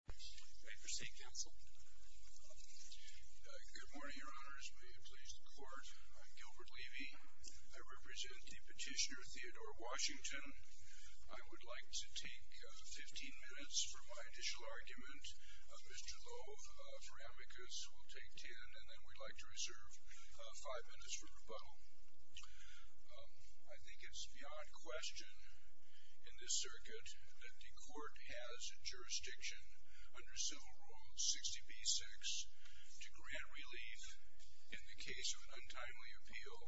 Good morning, Your Honors. May it please the Court, I'm Gilbert Levy. I represent the petitioner Theodore Washington. I would like to take 15 minutes for my initial argument. Mr. Lowe for amicus will take 10, and then we'd like to reserve 5 minutes for rebuttal. I think it's beyond question in this circuit that the Court has jurisdiction under Civil Rule 60b-6 to grant relief in the case of an untimely appeal,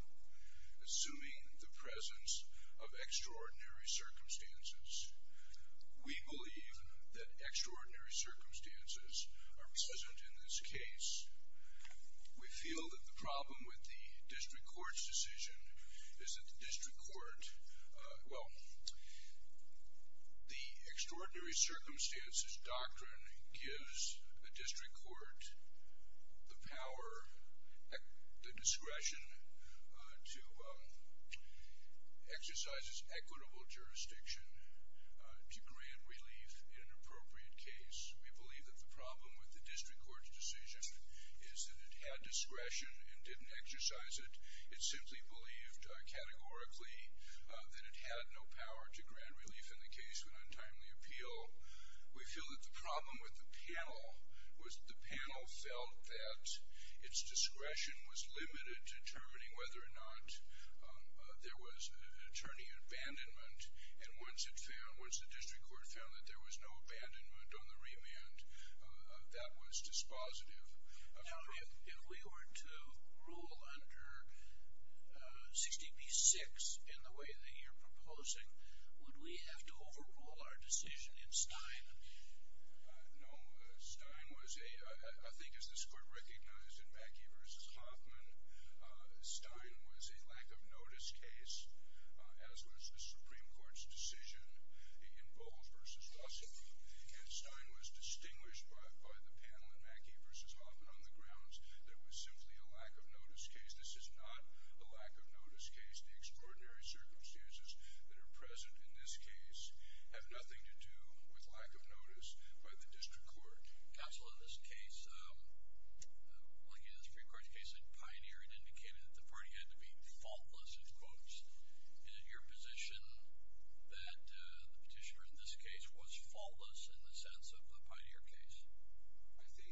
assuming the presence of extraordinary circumstances. We believe that extraordinary circumstances are present in this case. We feel that the problem with the District Court's decision is that the District Court, well, the extraordinary circumstances doctrine gives the District Court the power, the discretion, to exercise its equitable jurisdiction to grant relief in an appropriate case. We believe that the problem with the District Court's decision is that it had discretion and didn't exercise it. It simply believed, categorically, that it had no power to grant relief in the case of an untimely appeal. We feel that the problem with the panel was that the panel felt that its discretion was limited to determining whether or not there was an attorney abandonment, and once it found, there was no abandonment on the remand. That was dispositive. Now, if we were to rule under 60b-6 in the way that you're proposing, would we have to overrule our decision in Stein? No. Stein was a, I think as this Court recognized in Mackey v. Hoffman, Stein was a lack-of-notice case, as was the Supreme Court's decision in Bull v. Russell, and Stein was distinguished by the panel in Mackey v. Hoffman on the grounds that it was simply a lack-of-notice case. This is not a lack-of-notice case. The extraordinary circumstances that are present in this case have nothing to do with lack-of-notice by the District Court. Counsel, in this case, like in the Supreme Court's case in Pioneer, it indicated that the party had to be faultless, in quotes. Is it your position that the petitioner in this case was faultless in the sense of the Pioneer case? I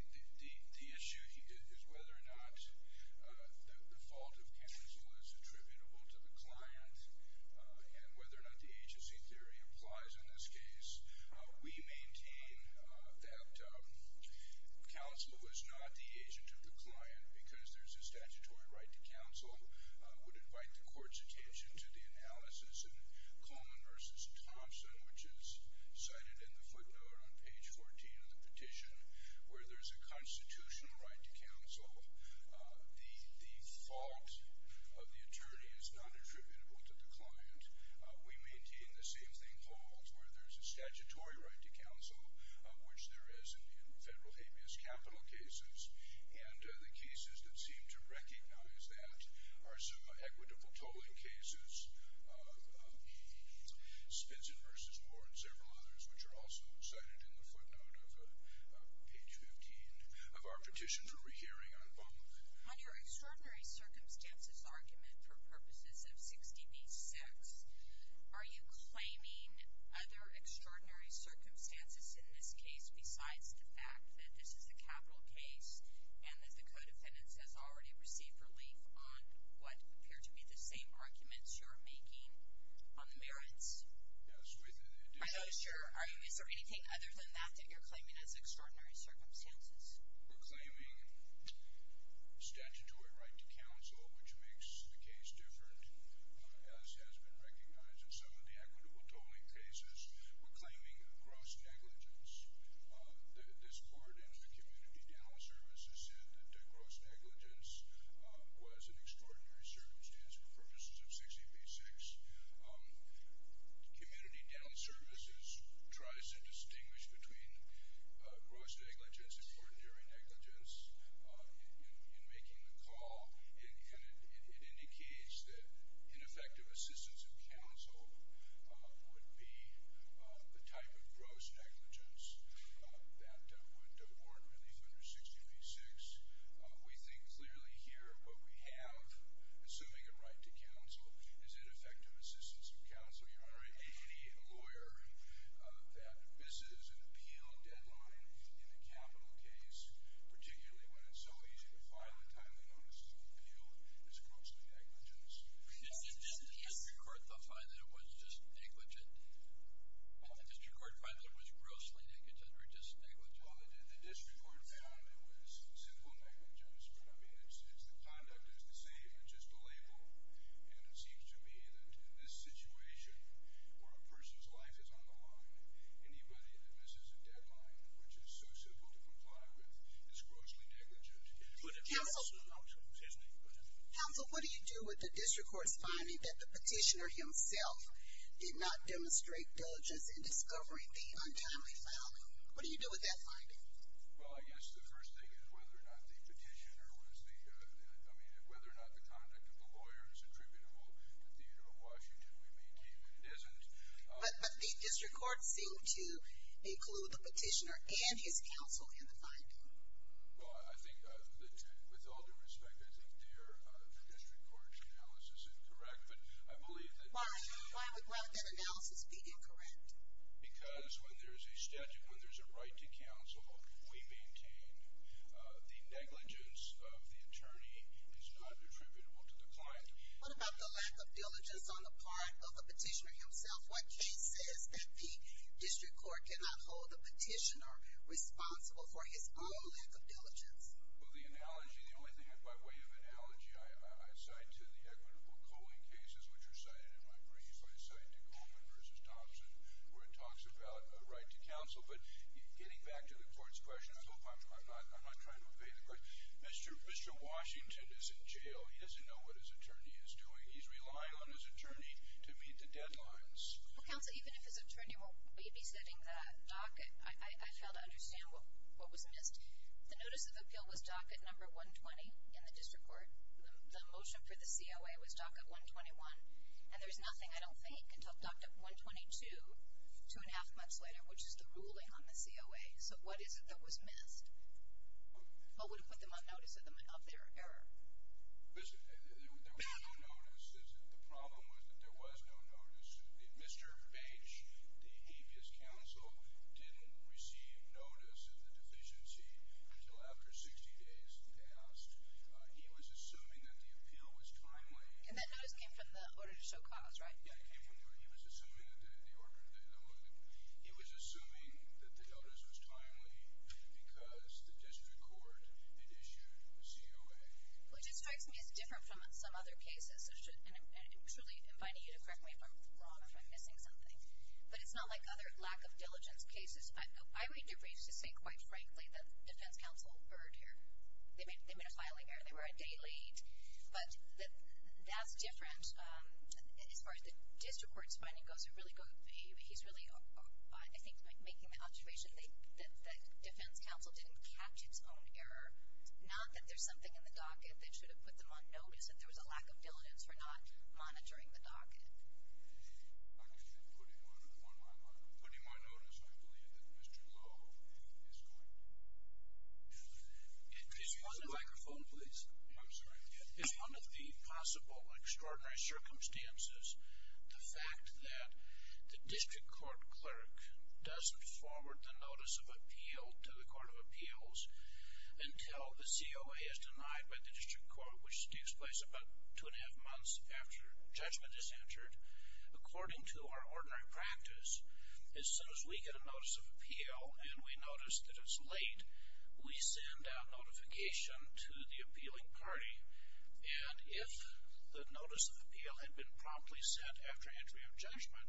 think the issue is whether or not the fault of counsel is attributable to the client and whether or not the agency theory applies in this case. We maintain that counsel is not the agent of the client because there's a statutory right to counsel. I would invite the Court's attention to the analysis in Coleman v. Thompson, which is cited in the footnote on page 14 of the petition, where there's a constitutional right to counsel. The fault of the attorney is not attributable to the client. We maintain the same thing holds, where there's a statutory right of which there is in federal habeas capital cases, and the cases that seem to recognize that are some equitable tolling cases, Spitzin v. Moore, and several others, which are also cited in the footnote of page 15 of our petition, where we're hearing on both. On your extraordinary circumstances argument for purposes of 6db6, are you claiming other extraordinary circumstances in this case besides the fact that this is a capital case and that the co-defendants has already received relief on what appear to be the same arguments you're making on the merits? Yes, within addition. I'm not sure, is there anything other than that that you're claiming as extraordinary circumstances? We're claiming statutory right to counsel, which makes the case different, as has been recognized in some of the equitable tolling cases. We're claiming gross negligence. This court in community dental services said that gross negligence was an extraordinary circumstance for purposes of 6db6. Community dental services tries to distinguish between gross negligence and cordonary negligence in making the call, and it indicates that ineffective assistance of counsel would be the type of gross negligence that would award relief under 6db6. We think clearly here, what we have, assuming a right to counsel, is ineffective assistance of counsel. You're already a lawyer that misses an appeal deadline in a capital case, particularly when it's so easy to file a time of notice of an appeal that is grossly negligent. Did the district court find that it was just negligent? Did the district court find that it was grossly negligent or just negligent? Well, the district court found it was simple negligence, but I mean it's the conduct is the same, it's just a label, and it seems to me that in this situation where a person's life is on the line, anybody that misses a deadline, which is so simple to comply with, is grossly negligent. Counsel, what do you do with the district court's finding that the petitioner himself did not demonstrate diligence in discovering the untimely filing? What do you do with that finding? Well, I guess the first thing is whether or not the petitioner was the, I mean whether or not the conduct of the lawyer is attributable to the theater of the petitioner and his counsel in the finding. Well, I think that with all due respect, I think their district court's analysis is incorrect, but I believe that. Why would that analysis be incorrect? Because when there's a statute, when there's a right to counsel, we maintain the negligence of the attorney is not attributable to the client. What about the lack of diligence on the part of the petitioner himself? What case says that the district court cannot hold the petitioner responsible for his own lack of diligence? Well, the analogy, the only thing, by way of analogy, I cite to the equitable coaling cases, which are cited in my briefs. I cite to Goldman v. Thompson, where it talks about a right to counsel, but getting back to the court's question, I'm not trying to obey the question. Mr. Washington is in jail. He doesn't know what his attorney is doing. He's relying on his attorney to meet the deadlines. Well, counsel, even if his attorney were babysitting the docket, I fail to understand what was missed. The notice of appeal was docket number 120 in the district court. The motion for the COA was docket 121, and there's nothing, I don't think, until docket 122, two and a half months later, which is the ruling on the COA. So what is it that was missed? What would have put them on notice of their error? Listen, there was no notice. The problem was that there was no notice. Mr. Bench, the habeas counsel, didn't receive notice of the deficiency until after 60 days passed. He was assuming that the appeal was timely. And that notice came from the order to show cause, right? Yeah, it came from the order. He was assuming that the notice was timely because the district court had issued the COA. Which strikes me as different from some other cases. And I'm truly inviting you to correct me if I'm wrong, if I'm missing something. But it's not like other lack of diligence cases. I would arrange to say, quite frankly, that the defense counsel erred here. They made a filing error. They were a day late. But that's different as far as the district court's finding goes. He's really, I think, making the observation that defense counsel didn't catch its own error. Not that there's something in the docket that should have put them on notice that there was a lack of diligence for not monitoring the docket. I'm just putting my notice. I believe that Mr. Glow is correct. Could you hold the microphone, please? I'm sorry. It's one of the possible extraordinary circumstances. The fact that the district court clerk doesn't forward the notice of appeal to the court of appeals until the COA is denied by the district court, which takes place about two and a half months after judgment is entered. According to our ordinary practice, as soon as we get a notice of appeal and we notice that it's late, we send out notification to the appealing party. And if the notice of appeal had been promptly sent after entry of judgment,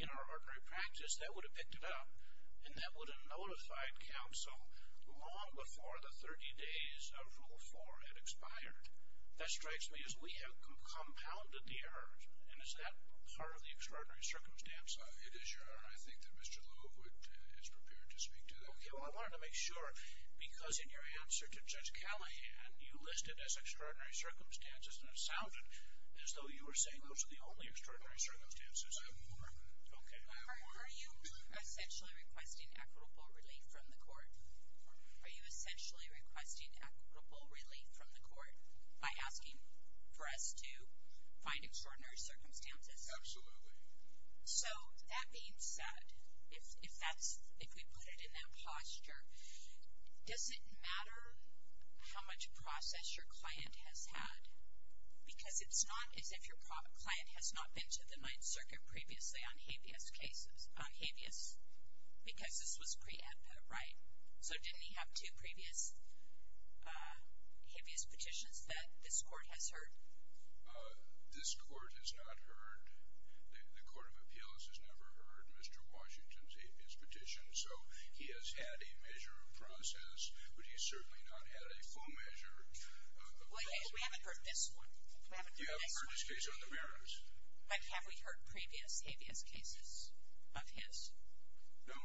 in our ordinary practice, they would have picked it up. And that would have notified counsel long before the 30 days of Rule 4 had expired. That strikes me as we have compounded the errors. And is that part of the extraordinary circumstance? It is, Your Honor. I think that Mr. Glow is prepared to speak to that. Okay. Well, I wanted to make sure, because in your answer to Judge Callahan, you listed as extraordinary circumstances, and it sounded as though you were saying those are the only extraordinary circumstances. I have more. Okay. Are you essentially requesting equitable relief from the court? Are you essentially requesting equitable relief from the court by asking for us to find extraordinary circumstances? Absolutely. So, that being said, if that's, if we put it in that posture, does it matter how much process your client has had? Because it's not as if your client has not been to the Ninth Circuit previously on habeas cases, on habeas, because this was preempted, right? So, didn't he have two previous habeas petitions that this court has heard? This court has not heard. The Court of Appeals has never heard Mr. Washington's habeas petition, so he has had a measure of process, but he's certainly not had a full measure. Well, we haven't heard this one. We haven't heard this case on the merits. But have we heard previous habeas cases of his? No.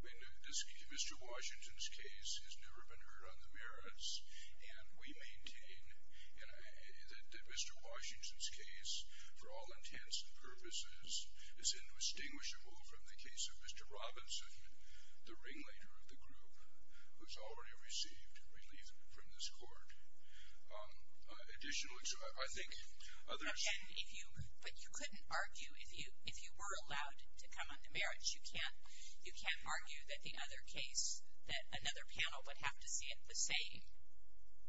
I mean, Mr. Washington's case has never been heard on the merits, and we maintain that Mr. Washington's case, for all circumstances, is indistinguishable from the case of Mr. Robinson, the ringleader of the group, who's already received relief from this court. Additionally, I think others... Now, Ken, if you, but you couldn't argue, if you, if you were allowed to come on the merits, you can't, you can't argue that the other case, that another panel would have to see it the same?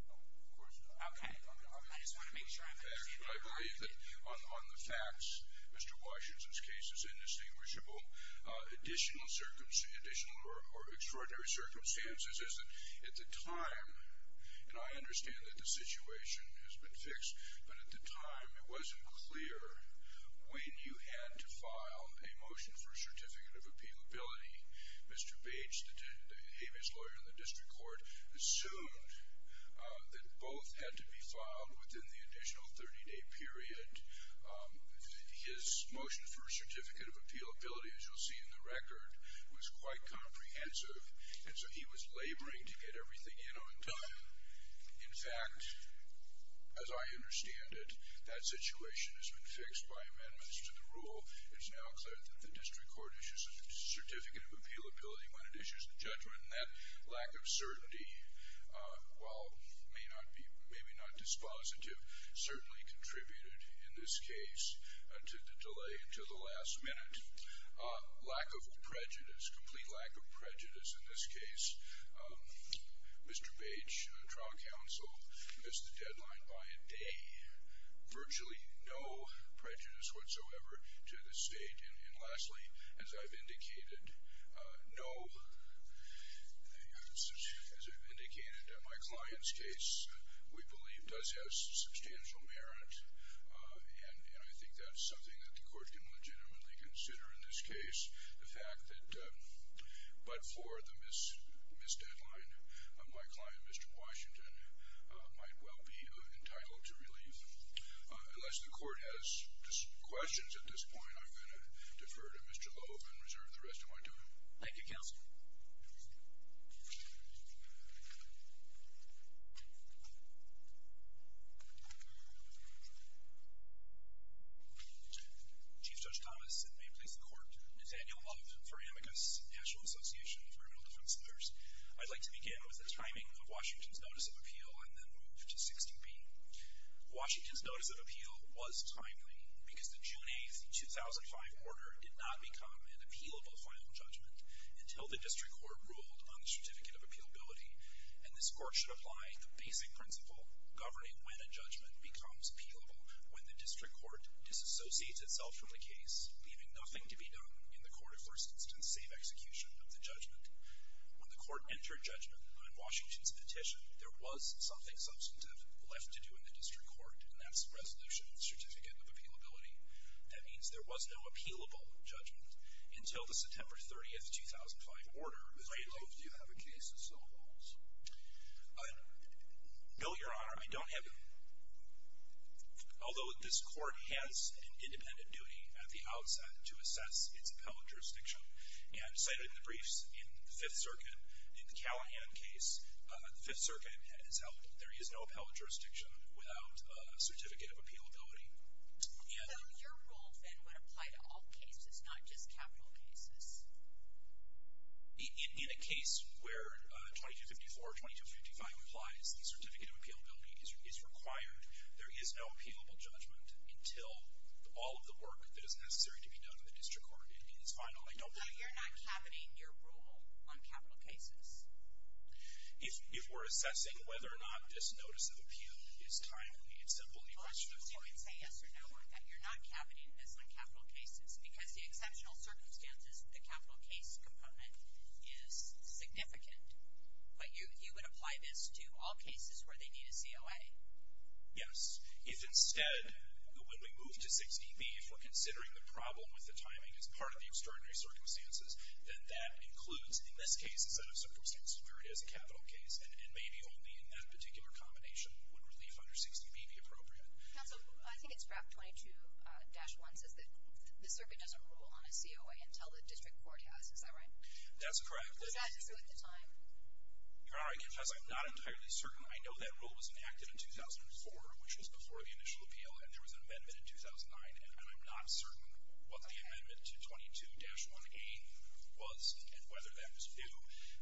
No, of course not. Okay. I just want to make sure I'm understanding. I believe that on the facts, Mr. Washington's case is indistinguishable. Additional circumstances, additional or extraordinary circumstances, is that at the time, and I understand that the situation has been fixed, but at the time, it wasn't clear when you had to file a motion for a certificate of appealability. Mr. Bates, the habeas lawyer in the district court, assumed that both had to be filed within the additional 30-day period. His motion for a certificate of appealability, as you'll see in the record, was quite comprehensive, and so he was laboring to get everything in on time. In fact, as I understand it, that situation has been fixed by amendments to the rule. It's now clear that the district court issues a certificate of appealability when it issues a judgment, and that lack of certainty, while maybe not dispositive, certainly contributed in this case to the delay to the last minute. Lack of prejudice, complete lack of prejudice in this case. Mr. Bates, trial counsel, missed the deadline by a day. Virtually no prejudice whatsoever to the state, and lastly, as I've indicated, no, as I've indicated, my client's case, we believe, does have substantial merit, and I think that's something that the court can legitimately consider in this case. The fact that, but for the missed deadline, my client, Mr. Washington, might well be entitled to relief. Unless the court has questions at this point, I'm going to defer to Mr. Loeb and reserve the rest of my time. Thank you, counsel. Chief Judge Thomas, and may it please the court, Nathaniel Loeb for Amicus National Association of Criminal Defense Lawyers. I'd like to begin with the timing of Washington's notice of appeal, and then move to 16b. Washington's notice of appeal was timely, because the June 8, 2005 order did not become an appealable final judgment until the district court ruled on the certificate of appealability, and this court should apply the basic principle governing when a judgment becomes appealable, when the district court disassociates itself from the case, leaving nothing to be done in the court of first instance safe execution of the judgment. When the court entered judgment on Washington's petition, there was something substantive left to do in the district court, and that's resolution of certificate of appealability. That means there was no appealable judgment until the September 30, 2005 order. Mr. Loeb, do you have a case of civil violence? No, Your Honor. I don't have, although this court has an independent duty at the outset to assess its appellate jurisdiction, and cited in the briefs in the Fifth Circuit, in the Callahan case, the Fifth Circuit has held that there is no appellate jurisdiction without a certificate of appealability. So your rule, then, would apply to all cases, not just capital cases? In a case where 2254 or 2255 applies, the certificate of appealability is required. There is no appealable judgment until all of the work that is necessary to be done in the district court. It means, finally, don't do that. So you're not cavoting your rule on capital cases? If we're assessing whether or not this notice of appeal is timely, it's a bully question. So you would say yes or no, that you're not cavoting this on capital cases, because the exceptional circumstances, the capital case component is significant, but you would apply this to all cases where they need a COA? Yes. If instead, when we move to 6db, if we're considering the problem with the timing as part of the extraordinary circumstances, then that includes, in this case, instead of circumstances where it is a capital case, and maybe only in that particular combination would relief under 6db be appropriate? Counsel, I think it's graph 22-1 says that the circuit doesn't rule on a COA until the district court has, is that right? That's correct. Does that include the time? All right, because I'm not entirely certain. I know that rule was enacted in 2004, which was before the initial appeal, and there was an amendment in 2009, and I'm not certain what the amendment to 22-1a was and whether that was due,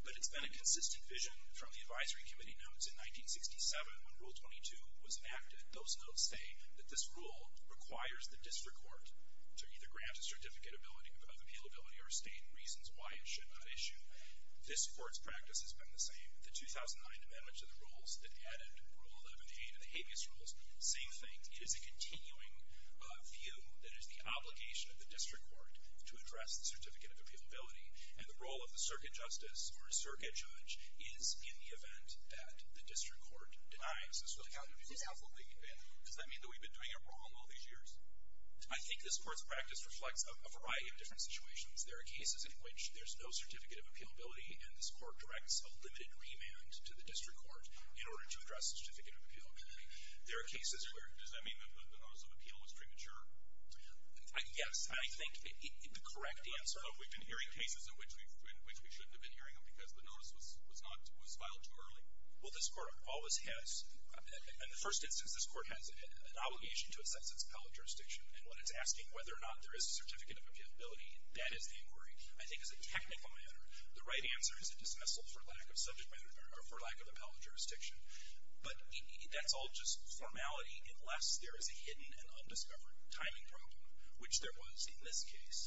but it's been a consistent vision from the advisory committee notes. In 1967, when rule 22 was enacted, those notes say that this rule requires the district court to either grant a certificate ability of appealability or state reasons why it should not issue. This, for its practice, has been the same. The 2009 amendment to the rules that added rule 11a to the habeas rules, same thing. It is a continuing view that it's the obligation of the district court to address the certificate of appealability, and the role of the circuit justice or circuit judge is in the event that the district court denies. Counsel, does that mean that we've been doing it wrong all these years? I think this court's practice reflects a variety of different situations. There are cases in which there's no certificate of appealability and this court directs a limited remand to the district court in order to address the certificate of appealability. There are cases where... Does that mean that the notice of appeal was premature? Yes, I think the correct answer... But we've been hearing cases in which we shouldn't have been hearing them because the notice was filed too early. Well, this court always has... In the first instance, this court has an obligation to assess its appellate jurisdiction, and when it's asking whether or not there is a certificate of appealability, that is the inquiry. I think as a technical matter, the right answer is a dismissal for lack of subject matter or for formality unless there is a hidden and undiscovered timing problem, which there was in this case.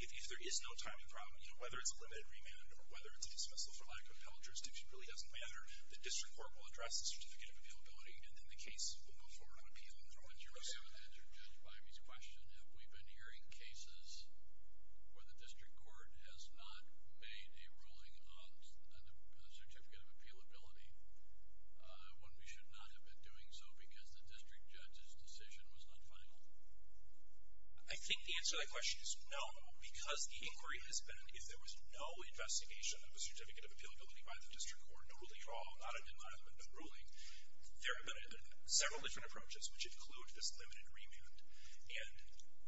If there is no timing problem, whether it's a limited remand or whether it's a dismissal for lack of appellate jurisdiction really doesn't matter. The district court will address the certificate of appealability, and then the case will go forward on appeal. And to answer Judge Bimey's question, have we been hearing cases where the district court has not made a ruling on the certificate of appealability, when we should not have been doing so because the district judge's decision was not final? I think the answer to that question is no, because the inquiry has been if there was no investigation of a certificate of appealability by the district court, no ruling at all, not a denial of the ruling, there have been several different approaches, which include this limited remand. And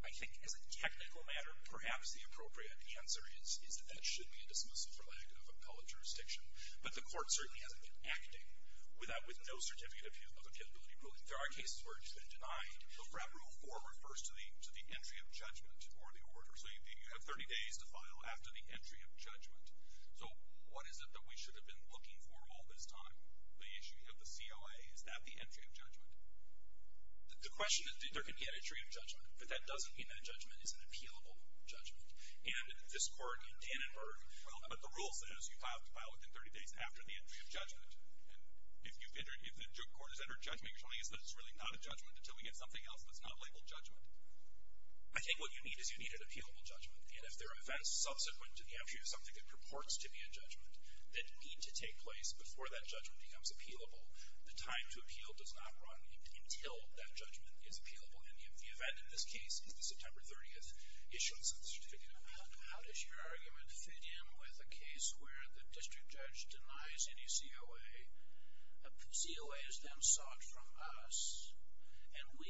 I think as a technical matter, perhaps the appropriate answer is that there should be a dismissal for lack of appellate jurisdiction. But the court certainly hasn't been acting with no certificate of appealability ruling. There are cases where it's been denied. But FRAP Rule 4 refers to the entry of judgment or the order. So you have 30 days to file after the entry of judgment. So what is it that we should have been looking for all this time? The issue of the CLA, is that the entry of judgment? The question is there can be an entry of judgment, but that doesn't mean that judgment is an appealable judgment. And this court in Dannenberg, but the rule says you have to file within 30 days after the entry of judgment. And if the district court has entered judgment, you're telling us that it's really not a judgment until we get something else that's not labeled judgment? I think what you need is you need an appealable judgment. And if there are events subsequent to the entry of something that purports to be a judgment that need to take place before that judgment becomes appealable, the time to appeal does not run until that judgment is appealable. And you've had in this case, September 30th, issuance of the certificate of appeal. How does your argument fit in with a case where the district judge denies any COA? COA is then sought from us, and we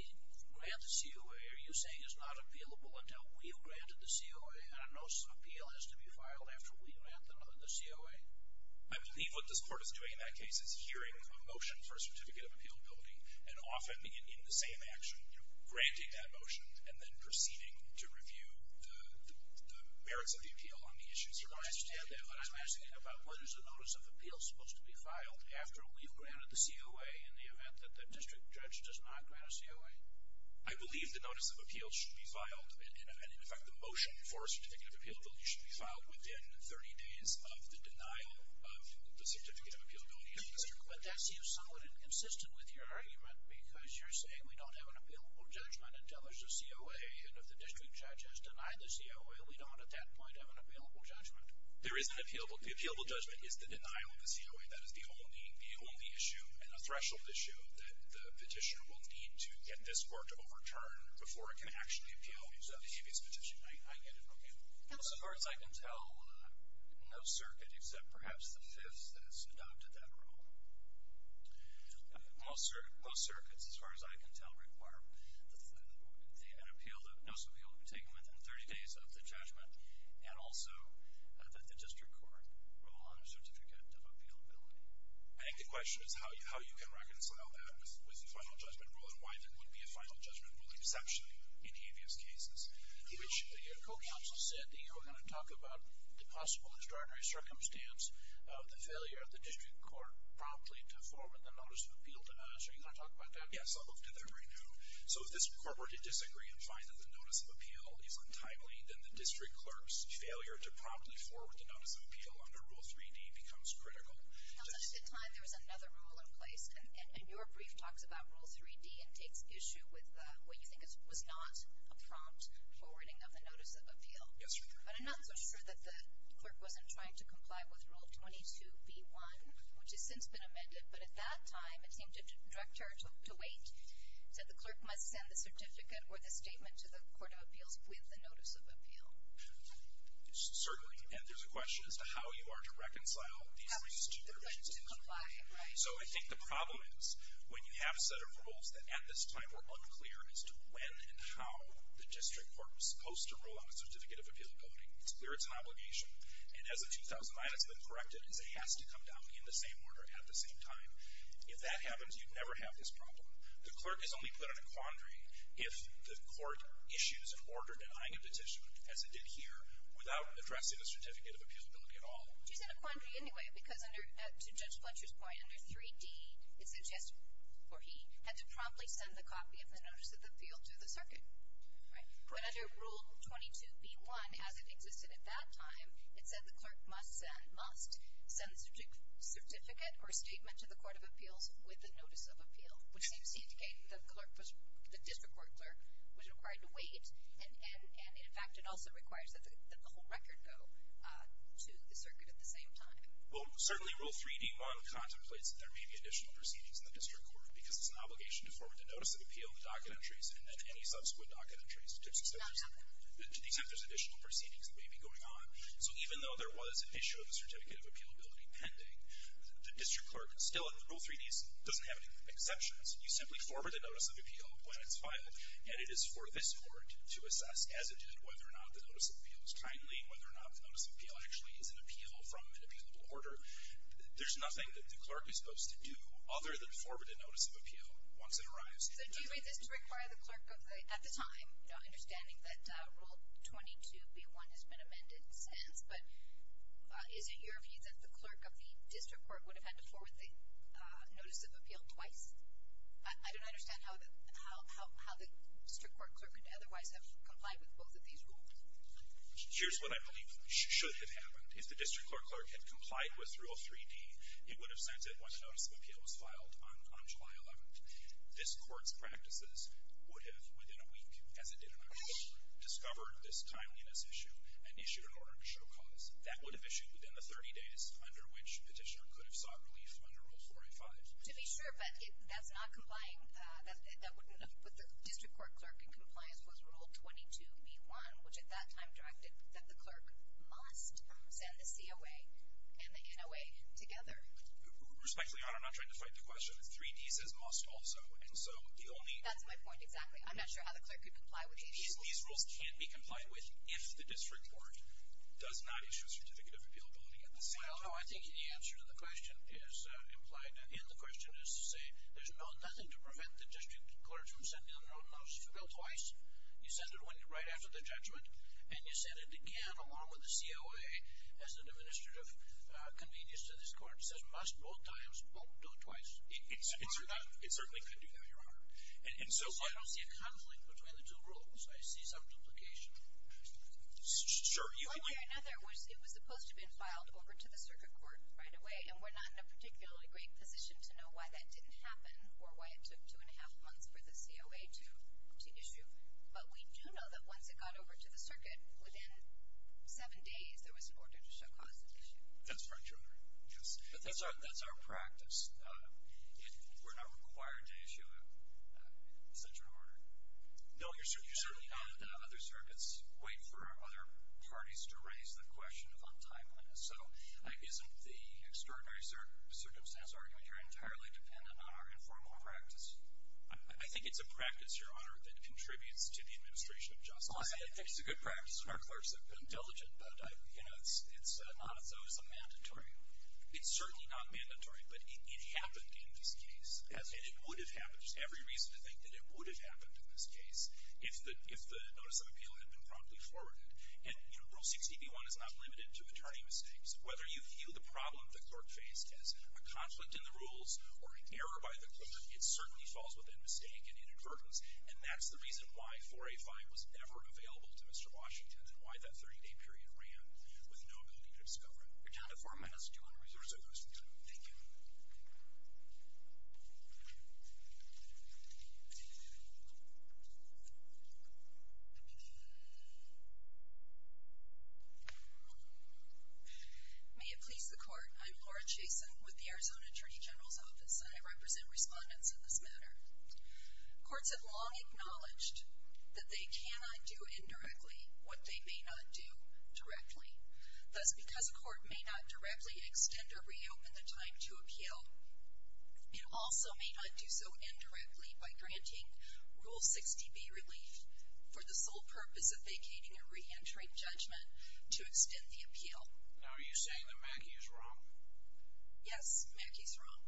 grant the COA. Are you saying it's not appealable until we've granted the COA? And I know some appeal has to be filed after we grant the COA. I believe what this court is doing in that case is hearing a motion for a certificate of appealability, and often in the same action, granting that motion and then proceeding to review the merits of the appeal on the issues. I understand that, but I'm asking about what is the notice of appeal supposed to be filed after we've granted the COA in the event that the district judge does not grant a COA? I believe the notice of appeal should be filed, and in fact, the motion for a certificate of appealability should be filed within 30 days of the denial of the certificate of appealability of the district. But that seems somewhat inconsistent with your argument because you're saying we don't have an appealable judgment until there's a COA, and if the district judge has denied the COA, we don't, at that point, have an appealable judgment. There is an appealable judgment. The appealable judgment is the denial of the COA. That is the only issue and a threshold issue that the petitioner will need to get this court to overturn before it can actually appeal. So if it's a petition, I get it from you. Well, as far as I can tell, no circuit except perhaps the Fifth has adopted that rule. Most circuits, as far as I can tell, require a notice of appeal to be taken within 30 days of the judgment, and also that the district court rule on a certificate of appealability. I think the question is how you can reconcile that with the final judgment rule and why there would be a final judgment rule exception in previous cases, which your co-counsel said that you were going to talk about the possible extraordinary circumstance of the failure of the district court promptly to forward the notice of appeal to us. Are you going to talk about that? Yes, I'll move to that right now. So if this court were to disagree and find that the notice of appeal is untimely, then the district clerk's failure to promptly forward the notice of appeal under Rule 3D becomes critical. At the time there was another rule in place, and your brief talks about Rule 3D and takes issue with what you think was not a prompt forwarding of the notice of appeal. Yes. But I'm not so sure that the clerk wasn't trying to comply with Rule 22B1, which has since been amended, but at that time it seemed to Director DeWaite said the clerk must send the certificate or the statement to the Court of Appeals with the notice of appeal. Certainly, and there's a question as to how you are to reconcile these two. So I think the problem is, when you have a set of rules that at this time were unclear as to when and how the district court was supposed to rule on a certificate of appealability, it's clear it's an obligation. And as of 2009, it's been corrected as it has to come down in the same order at the same time. If that happens, you'd never have this problem. The clerk is only put on a quandary if the court issues an order denying a petition, as it did here, without addressing the certificate of appealability at all. She's in a quandary anyway, because under, to Judge Fletcher's point, under 3D, it suggests, or he, had to promptly send the copy of the notice of appeal to the circuit, right? But under Rule 22B1, as it existed at that time, it said the clerk must send the certificate or statement to the Court of Appeals with the notice of appeal, which seems to indicate that the district court was required to wait, and in fact, it also requires that the whole record go to the circuit at the same time. Well, certainly Rule 3D1 contemplates that there may be additional proceedings in the district court, because it's an obligation to forward the notice of appeal, the docket entries, and then any subsequent docket entries to the except there's additional proceedings that may be going on. So even though there was an issue of the certificate of appealability pending, the district clerk still, in Rule 3D, doesn't have any exceptions. You simply forward the notice of appeal when it's and it is for this court to assess, as it did, whether or not the notice of appeal is timely, whether or not the notice of appeal actually is an appeal from an appealable order. There's nothing that the clerk is supposed to do other than forward a notice of appeal once it arrives. So do you read this to require the clerk of the, at the time, understanding that Rule 22B1 has been amended since, but isn't your view that the clerk of the district court would have had to the district court clerk would otherwise have complied with both of these rules? Here's what I believe should have happened. If the district court clerk had complied with Rule 3D, it would have sent it when the notice of appeal was filed on July 11th. This court's practices would have, within a week, as it did in our report, discovered this timeliness issue, an issue in order to show cause. That would have issued within the 30 days under which petitioner could have sought relief under Rule 45. To be sure, but if that's not complying, that wouldn't have put the district court clerk in compliance with Rule 22B1, which at that time directed that the clerk must send the COA and the NOA together. Respectfully, I'm not trying to fight the question. 3D says must also, and so the only... That's my point, exactly. I'm not sure how the clerk could comply with these rules. These rules can be complied with if the district court does not issue a certificate of appealability at the same time. Well, no, I think the answer to the question is, you sent the district clerk from sending the notice of appeal twice, you sent it right after the judgment, and you sent it again along with the COA as an administrative convenience to this court. It says must both times, won't do it twice. It certainly could do that, Your Honor. And so I don't see a conflict between the two rules. I see some duplication. Sure. One way or another, it was supposed to have been filed over to the circuit court right away, and we're not in a particularly great position to know why that didn't happen or why it took two and a half months for the COA to issue. But we do know that once it got over to the circuit, within seven days there was an order to show cause of the issue. That's right, Your Honor. Yes. But that's our practice. We're not required to issue such an order. No, you're certainly not. Other circuits wait for other parties to raise the question of on-time So isn't the extraordinary circumstance argument entirely dependent on our informal practice? I think it's a practice, Your Honor, that contributes to the administration of justice. I think it's a good practice. Our clerks have been diligent, but it's not as though as a mandatory. It's certainly not mandatory, but it happened in this case, and it would have happened. There's every reason to think that it would have happened in this case if the notice of appeal had been forwarded. And Rule 60b-1 is not limited to attorney mistakes. Whether you view the problem the clerk faced as a conflict in the rules or an error by the clerk, it certainly falls within mistake and inadvertence, and that's the reason why 4A-5 was never available to Mr. Washington and why that 30-day period ran with no ability to discover it. You're down to four minutes, Your Honor, if you would reserve some of your time. Thank you. May it please the Court, I'm Laura Chasen with the Arizona Attorney General's Office, and I represent respondents in this matter. Courts have long acknowledged that they cannot do indirectly what they may not do directly. Thus, because a court may not directly extend or reopen the time to appeal, it also may not do so indirectly by granting Rule 60b relief for the sole purpose of vacating a re-entering judgment to extend the appeal. Now, are you saying that Maggie's wrong? Yes, Maggie's wrong.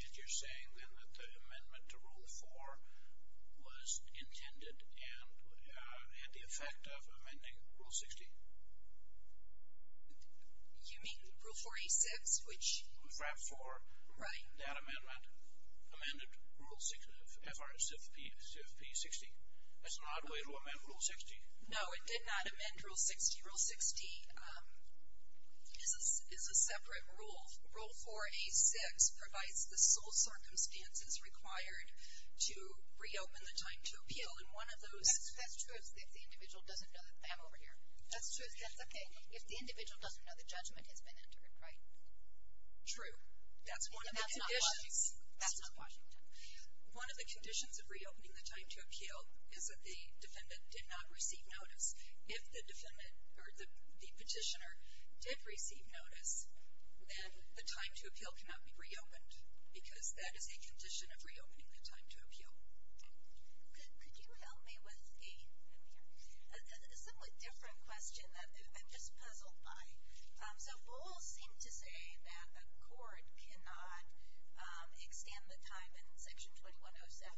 If you're saying then that the amendment to Rule 4 was intended and had the effect of amending Rule 60? You mean Rule 4A-6, which- FRAP-4. Right. That amendment amended Rule 60, F-R-S-F-P-60. That's not a way to amend Rule 60. No, it did not amend Rule 60. Rule 60 is a separate rule. Rule 4A-6 provides the sole circumstances required to reopen the time to appeal, and one of those- That's true if the individual doesn't know- I'm over here. That's true, that's okay. If the individual doesn't know the judgment has been entered, right? True. That's one of the conditions- And that's not Washington. That's not Washington. One of the conditions of reopening the time to appeal is that the defendant did not receive notice, then the time to appeal cannot be reopened, because that is a condition of reopening the time to appeal. Could you help me with a somewhat different question that I'm just puzzled by? So Bowles seemed to say that a court cannot extend the time in Section 2107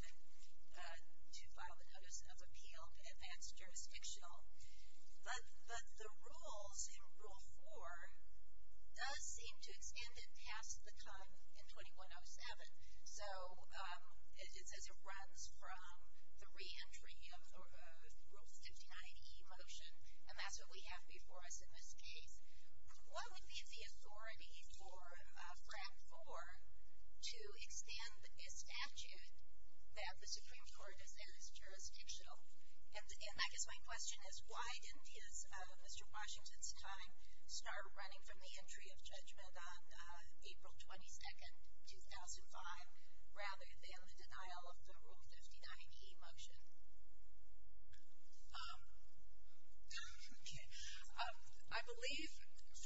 to file the notice of appeal to advance jurisdictional, but the rules in Rule 4 does seem to extend it past the time in 2107. So it says it runs from the re-entry of Rule 59E motion, and that's what we have before us in this case. What would be the authority for the Supreme Court to say it's jurisdictional? And I guess my question is, why didn't Mr. Washington's time start running from the entry of judgment on April 22nd, 2005, rather than the denial of the Rule 59E motion? I believe,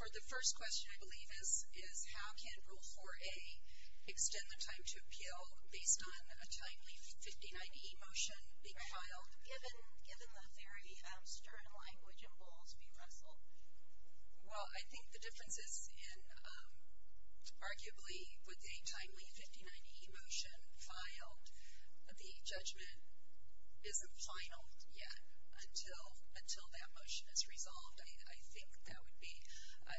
for the first question, I believe is how can Rule 4A extend the time to appeal based on a timely Rule 59E motion being filed? Given the very stern language in Bowles v. Russell? Well, I think the difference is in, arguably, with a timely Rule 59E motion filed, the judgment isn't final yet until that motion is resolved. I think that would be, I,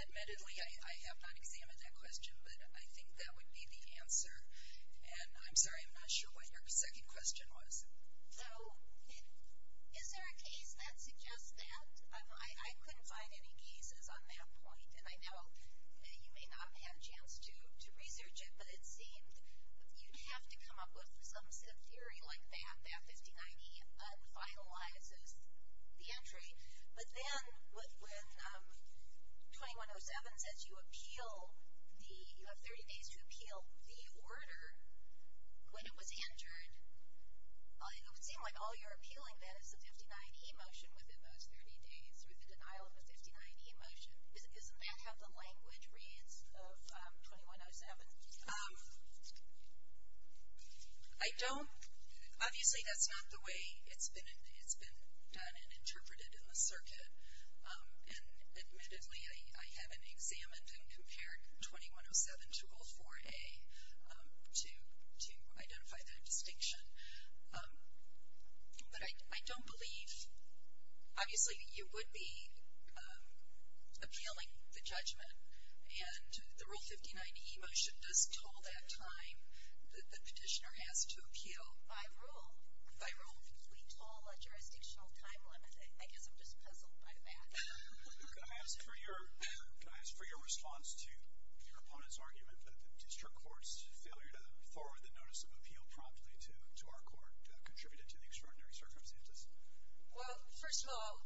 admittedly, I have not examined that question, but I think that would be the answer. And I'm sorry, I'm not sure what your second question was. So, is there a case that suggests that? I couldn't find any cases on that point, and I know you may not have had a chance to research it, but it seemed you'd have to come up with some theory like that, that 59E un-finalizes the entry. But then, when 2107 says you appeal the, you have 30 days to appeal the order when it was entered, it would seem like all you're appealing then is the 59E motion within those 30 days, or the denial of the 59E motion. Isn't that how the language reads of 2107? Um, I don't, obviously that's not the way it's been done and interpreted in the circuit. And, admittedly, I haven't examined and compared 2107 to Rule 4A to identify that distinction. But I don't believe, obviously you would be appealing the judgment, and the Rule 59E motion does toll that time that the petitioner has to appeal by rule. By rule, we toll a jurisdictional time limit. I guess I'm just puzzled by that. Can I ask for your response to your opponent's argument that the district court's failure to thorough the notice of appeal promptly to our court contributed to the extraordinary circumstances? Well, first of all,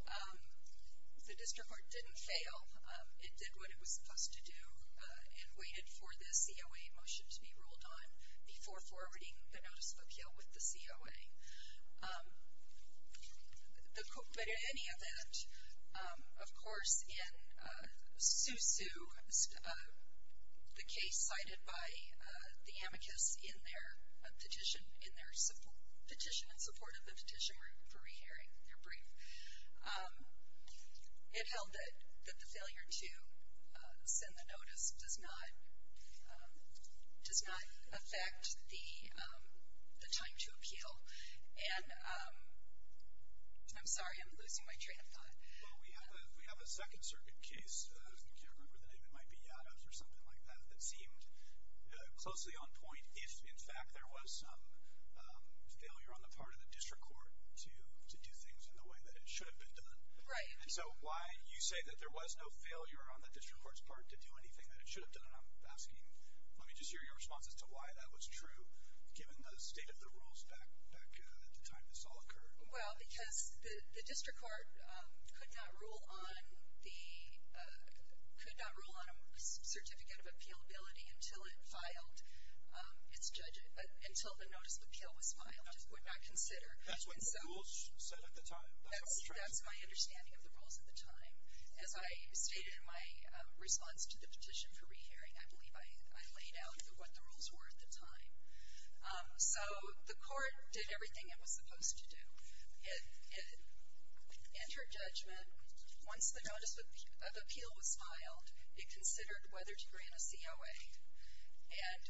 the district court didn't fail. It did what it was supposed to do and waited for the COA motion to be ruled on before forwarding the notice of appeal with the COA. But in any event, of course in Sousou, the case cited by the amicus in their petition, in their petition in support of the petition for re-hearing, their brief, it held that the failure to send the notice does not affect the time to appeal. And I'm sorry, I'm losing my train of thought. Well, we have a second circuit case, I can't remember the name, it might be Yaddos or something like that, that seemed closely on point if, in fact, there was some failure on the part of the district court to do things in the way that it should have been done. Right. And so why you say that there was no failure on the district court's part to do anything that it should have done, and I'm asking, let me just hear your response as to why that was true, given the state of the rules back at the time this all occurred. Well, because the district court could not rule on a certificate of appealability until it filed its judgment, until the notice of appeal was filed, it would not consider. That's what the rules said at the time. That's my understanding of the rules at the time. As I stated in my response to the petition for re-hearing, I believe I laid out what the rules were at the time. So the court did everything it was supposed to do. It entered judgment, once the notice of appeal was filed, it considered whether to grant a COA. And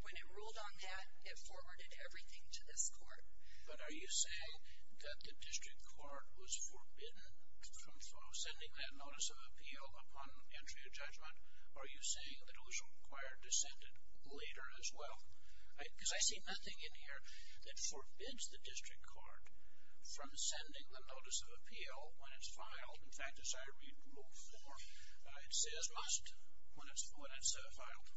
when it ruled on that, it forwarded everything to this court. But are you saying that the district court was forbidden from sending that notice of appeal upon entry of judgment? Are you saying that it was required to send it later as well? Because I see nothing in here that forbids the district court from sending the notice of appeal when it's filed. In fact, as I read rule four, it says must when it's filed.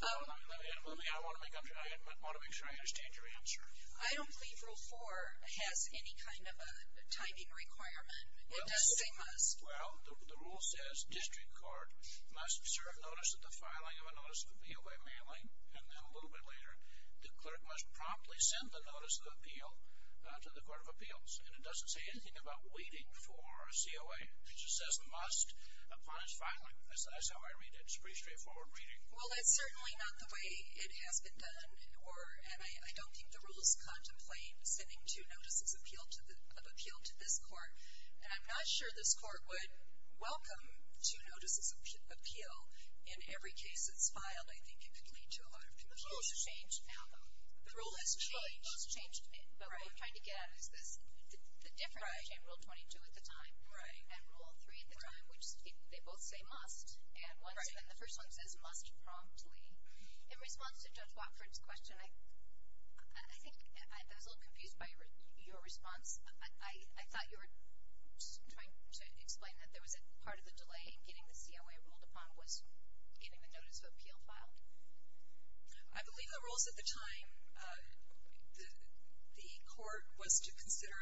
Let me, I want to make sure I understand your answer. I don't believe rule four has any kind of a timing requirement. It does say must. Well, the rule says district court must serve notice of the filing of a notice of appeal by mailing, and then a little bit later, the clerk must promptly send the notice of appeal to the court of appeals. And it doesn't say anything about waiting for a COA. It just says must upon its filing. That's how I read it. It's a pretty straightforward reading. Well, that's certainly not the way it has been done. Or, and I don't think the rules contemplate sending two notices of appeal to this court. And I'm not sure this court would welcome two notices of appeal. In every case that's filed, I think it could lead to a lot of confusion. The rule has changed now, though. The rule has changed. But what I'm trying to get at is this, the difference between rule 22 at the time and rule three at the time, which they both say must, and the first one says must promptly. In response to Judge Watford's question, I think I was a little confused by your response. I thought you were trying to explain that there was a part of the delay in getting the COA ruled upon was getting the notice of appeal filed. I believe the rules at the time, the court was to consider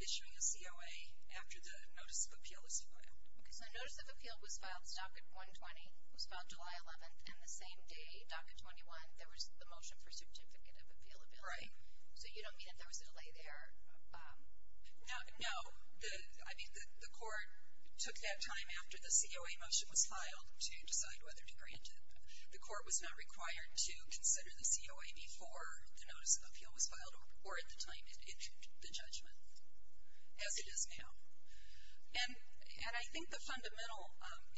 issuing a COA after the notice of appeal was filed. Because the notice of appeal was filed, it's docket 120, was filed July 11th. And the same day, docket 21, there was the motion for certificate of appealability. Right. So you don't mean that there was a delay there? No. I mean, the court took that time after the COA motion was filed to decide whether to grant it. The court was not required to consider the COA before the notice of appeal was filed or at the time in the judgment, as it is now. And I think the fundamental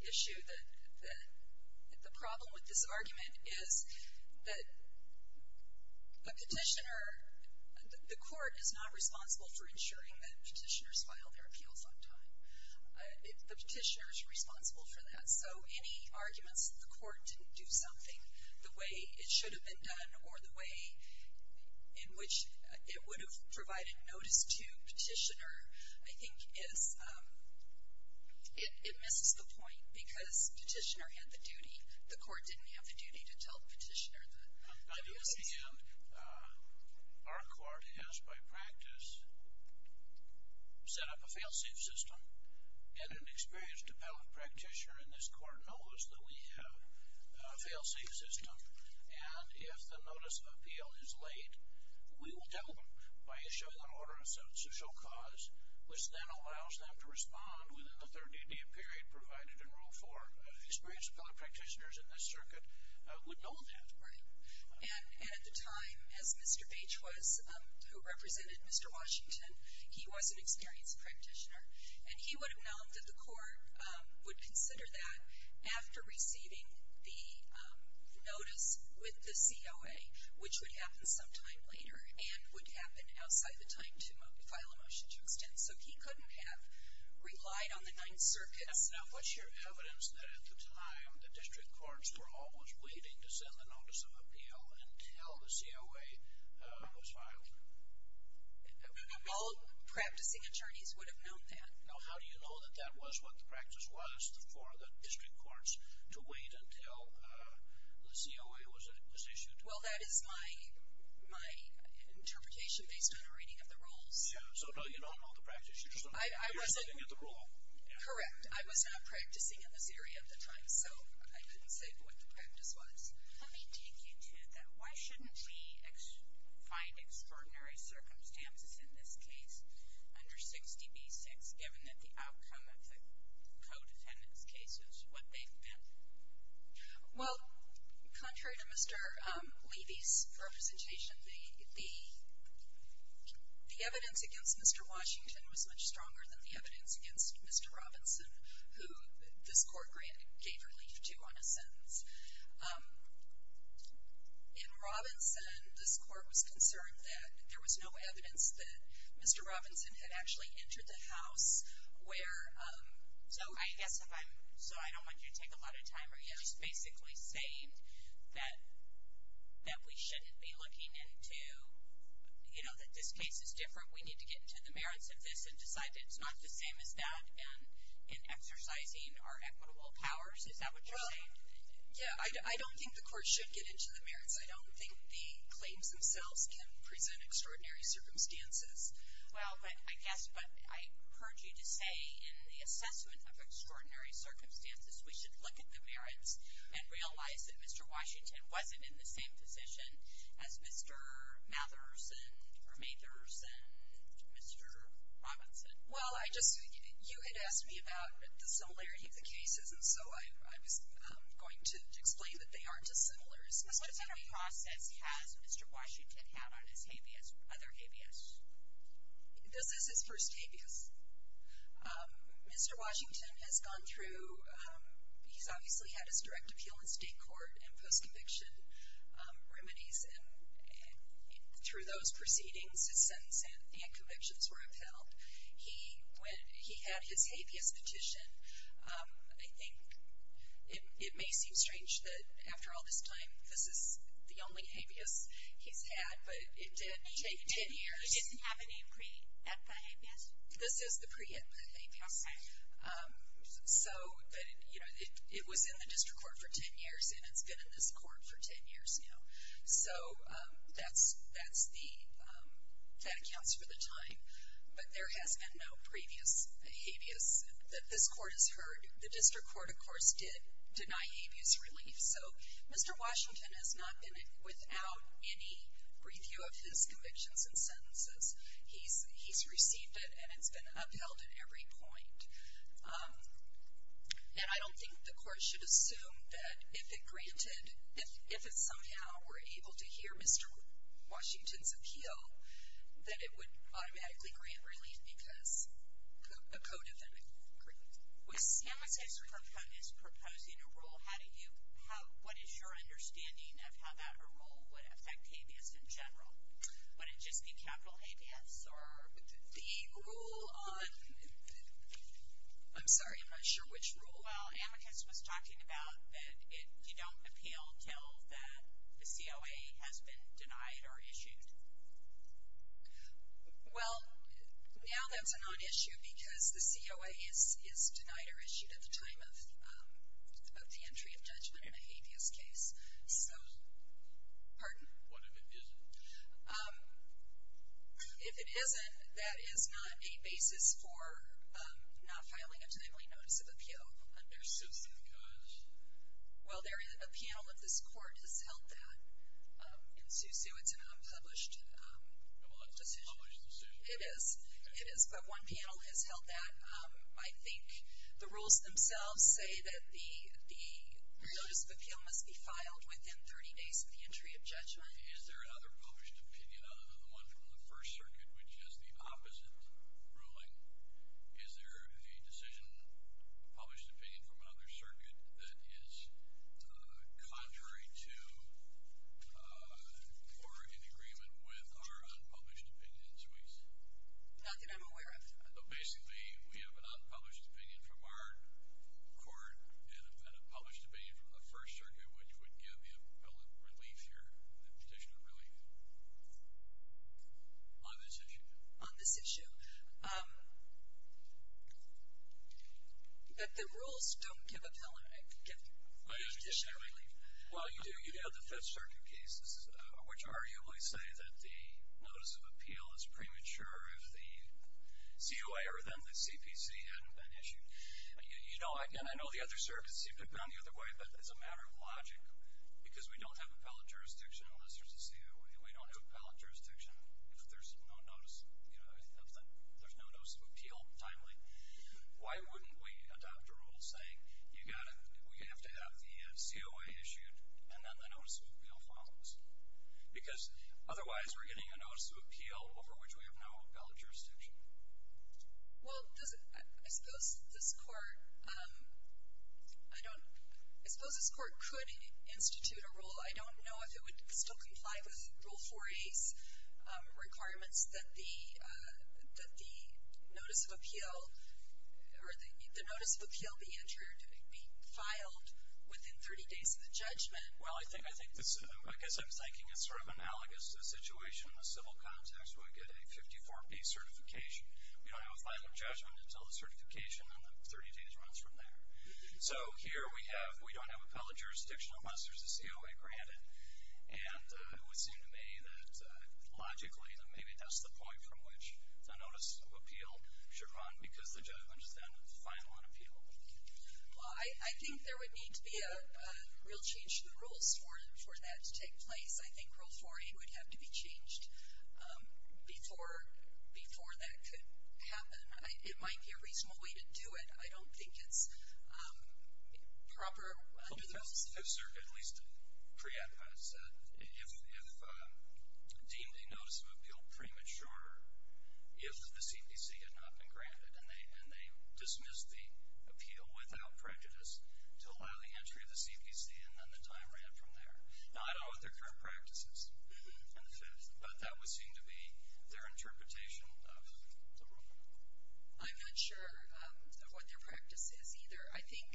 issue that, the problem with this argument is that a petitioner, the court is not responsible for ensuring that petitioners file their appeals on time. The petitioner is responsible for that. So any arguments that the court didn't do something the way it should have been done or the way in which it would have provided notice to petitioner, I think is, it misses the point because the petitioner had the duty. The court didn't have the duty to tell the petitioner that. I do understand our court has, by practice, set up a fail-safe system and an experienced appellate practitioner in this court knows that we have a fail-safe system. And if the notice of appeal is late, we will tell them by issuing an order of substantial cause, which then allows them to respond within the 30-day period provided in Rule 4. Experienced appellate practitioners in this circuit would know that. Right. And at the time, as Mr. Beach was, who represented Mr. Washington, he was an experienced practitioner. And he would have known that the court would consider that after receiving the notice with the COA, which would happen sometime later and would happen outside the time to file a motion to extend. So he couldn't have relied on the Ninth Circuit. Yes. Now, what's your evidence that at the time, the district courts were always waiting to send the notice of appeal until the COA was filed? All practicing attorneys would have known that. Now, how do you know that that was what the practice was for the district courts to wait until the COA was issued? Well, that is my interpretation based on a reading of the rules. Yeah. So no, you don't know the practice. You just don't know that you're sitting at the rule. Correct. I was not practicing in this area at the time. So I couldn't say what the practice was. Let me take you to that. Why shouldn't we find extraordinary circumstances in this case under 60b-6, given that the outcome of the codependent's case is what they've met? Well, contrary to Mr. Levy's representation, the evidence against Mr. Washington was much stronger than the evidence against Mr. Robinson, who this court gave relief to on a sentence. In Robinson, this court was concerned that there was no evidence that Mr. Robinson had actually entered the house, where, so I guess if I'm, so I don't want you to take a lot of time, but you're just basically saying that we shouldn't be looking into, you know, that this case is different. We need to get into the merits of this and decide that it's not the same as that in exercising our equitable powers. Is that what you're saying? Yeah. I don't think the court should get into the merits. I don't think the claims themselves can present extraordinary circumstances. Well, but I guess, but I heard you to say in the assessment of extraordinary circumstances, we should look at the merits and realize that Mr. Washington wasn't in the same position as Mr. Mathers and, or Mathers and Mr. Robinson. Well, I just, you had asked me about the similarity of the cases, and so I was going to explain that they aren't as similar as Mr. Mathers. What kind of process has Mr. Washington had on his habeas, other habeas? This is his first habeas. Mr. Washington has gone through, he's obviously had his direct appeal in state court and post-conviction remedies, and through those proceedings, his sentence and convictions were upheld. He went, he had his habeas petition, I think, it may seem strange that after all this time, this is the only habeas he's had, but it did take 10 years. He doesn't have any pre-epi habeas? This is the pre-epi habeas. Okay. So, but, you know, it was in the district court for 10 years, and it's been in this court for 10 years now. So, that's the, that counts for the time. But there has been no previous habeas that this court has heard. The district court, of course, did deny habeas relief. So, Mr. Washington has not been without any review of his convictions and sentences. He's received it, and it's been upheld at every point. And I don't think the court should assume that if it granted, if it somehow were able to hear Mr. Washington's appeal, that it would automatically grant relief because a code of ethics would grant it. With amicus ex superfundus proposing a rule, how do you, what is your understanding of how that rule would affect habeas in general? Would it just be capital habeas, or the rule on, I'm sorry, I'm not sure which rule. Well, amicus was talking about that if you don't appeal until that the COA has been denied or issued. Well, now that's a non-issue because the COA is denied or issued at the time of both the entry of judgment and a habeas case. So, pardon? What if it isn't? If it isn't, that is not a basis for not filing a timely notice of appeal. There's suits in the courts. Well, there is, a panel of this court has held that. In Sioux, Sioux, it's an unpublished. Well, it's not published in Sioux. It is. It is, but one panel has held that. I think the rules themselves say that the notice of appeal must be filed within 30 days of the entry of judgment. Is there another published opinion other than the one from the First Circuit, which has the opposite ruling? Is there a decision, a published opinion from another circuit that is contrary to or in agreement with our unpublished opinion in Sioux? Not that I'm aware of. Basically, we have an unpublished opinion from our court and a published opinion from the First Circuit, which would give the appellant relief here, the petitioner relief. On this issue. On this issue. But the rules don't give the petitioner relief. Well, you do. You have the Fifth Circuit cases, which arguably say that the notice of appeal is premature if the CUA or then the CPC hadn't been issued. You know, and I know the other circuits have gone the other way, but it's a matter of logic because we don't have appellate jurisdiction unless there's a CUA. We don't have appellate jurisdiction if there's no notice of appeal timely. Why wouldn't we adopt a rule saying we have to have the CUA issued and then the notice of appeal follows? Because otherwise we're getting a notice of appeal over which we have no appellate jurisdiction. Well, does it, I suppose this court, I don't, I suppose this court could institute a rule. I don't know if it would still comply with Rule 4A's requirements that the notice of appeal or the notice of appeal be entered, be filed within 30 days of the judgment. Well, I think, I think this, I guess I'm thinking it's sort of analogous to the situation in the civil context where we get a 54-P certification. We don't have a final judgment until the certification in the 30 days runs from there. So here we have, we don't have appellate jurisdiction unless there's a CUA granted. And it would seem to me that logically, that maybe that's the point from which the notice of appeal should run because the judgment is then final and appealable. Well, I think there would need to be a real change to the rules for that to take place. I think Rule 4A would have to be changed before, before that could happen. I, it might be a reasonable way to do it. I don't think it's proper under the rules. Well, if, sir, at least Prieta has said, if, if deemed a notice of appeal premature, if the CPC had not been granted and they, and they dismissed the appeal without prejudice to allow the entry of the CPC and then the time ran from there. Now, I don't know what their current practice is in the fifth, but that would seem to be their interpretation of the rule. I'm not sure of what their practice is either. I think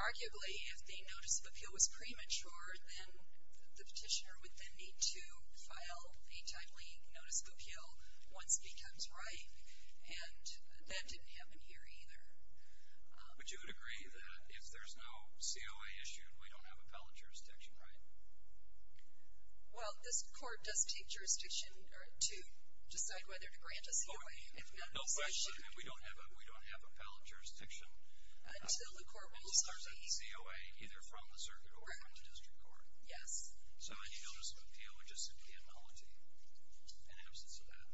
arguably if the notice of appeal was premature, then the petitioner would then need to file a timely notice of appeal once it becomes right. And that didn't happen here either. But you would agree that if there's no COA issued, we don't have appellate jurisdiction, right? Well, this court does take jurisdiction to decide whether to grant a COA, if not. No question, if we don't have, we don't have appellate jurisdiction. Until the court will start the. COA either from the circuit or from the district court. Yes. So any notice of appeal would just simply be a nullity in absence of that.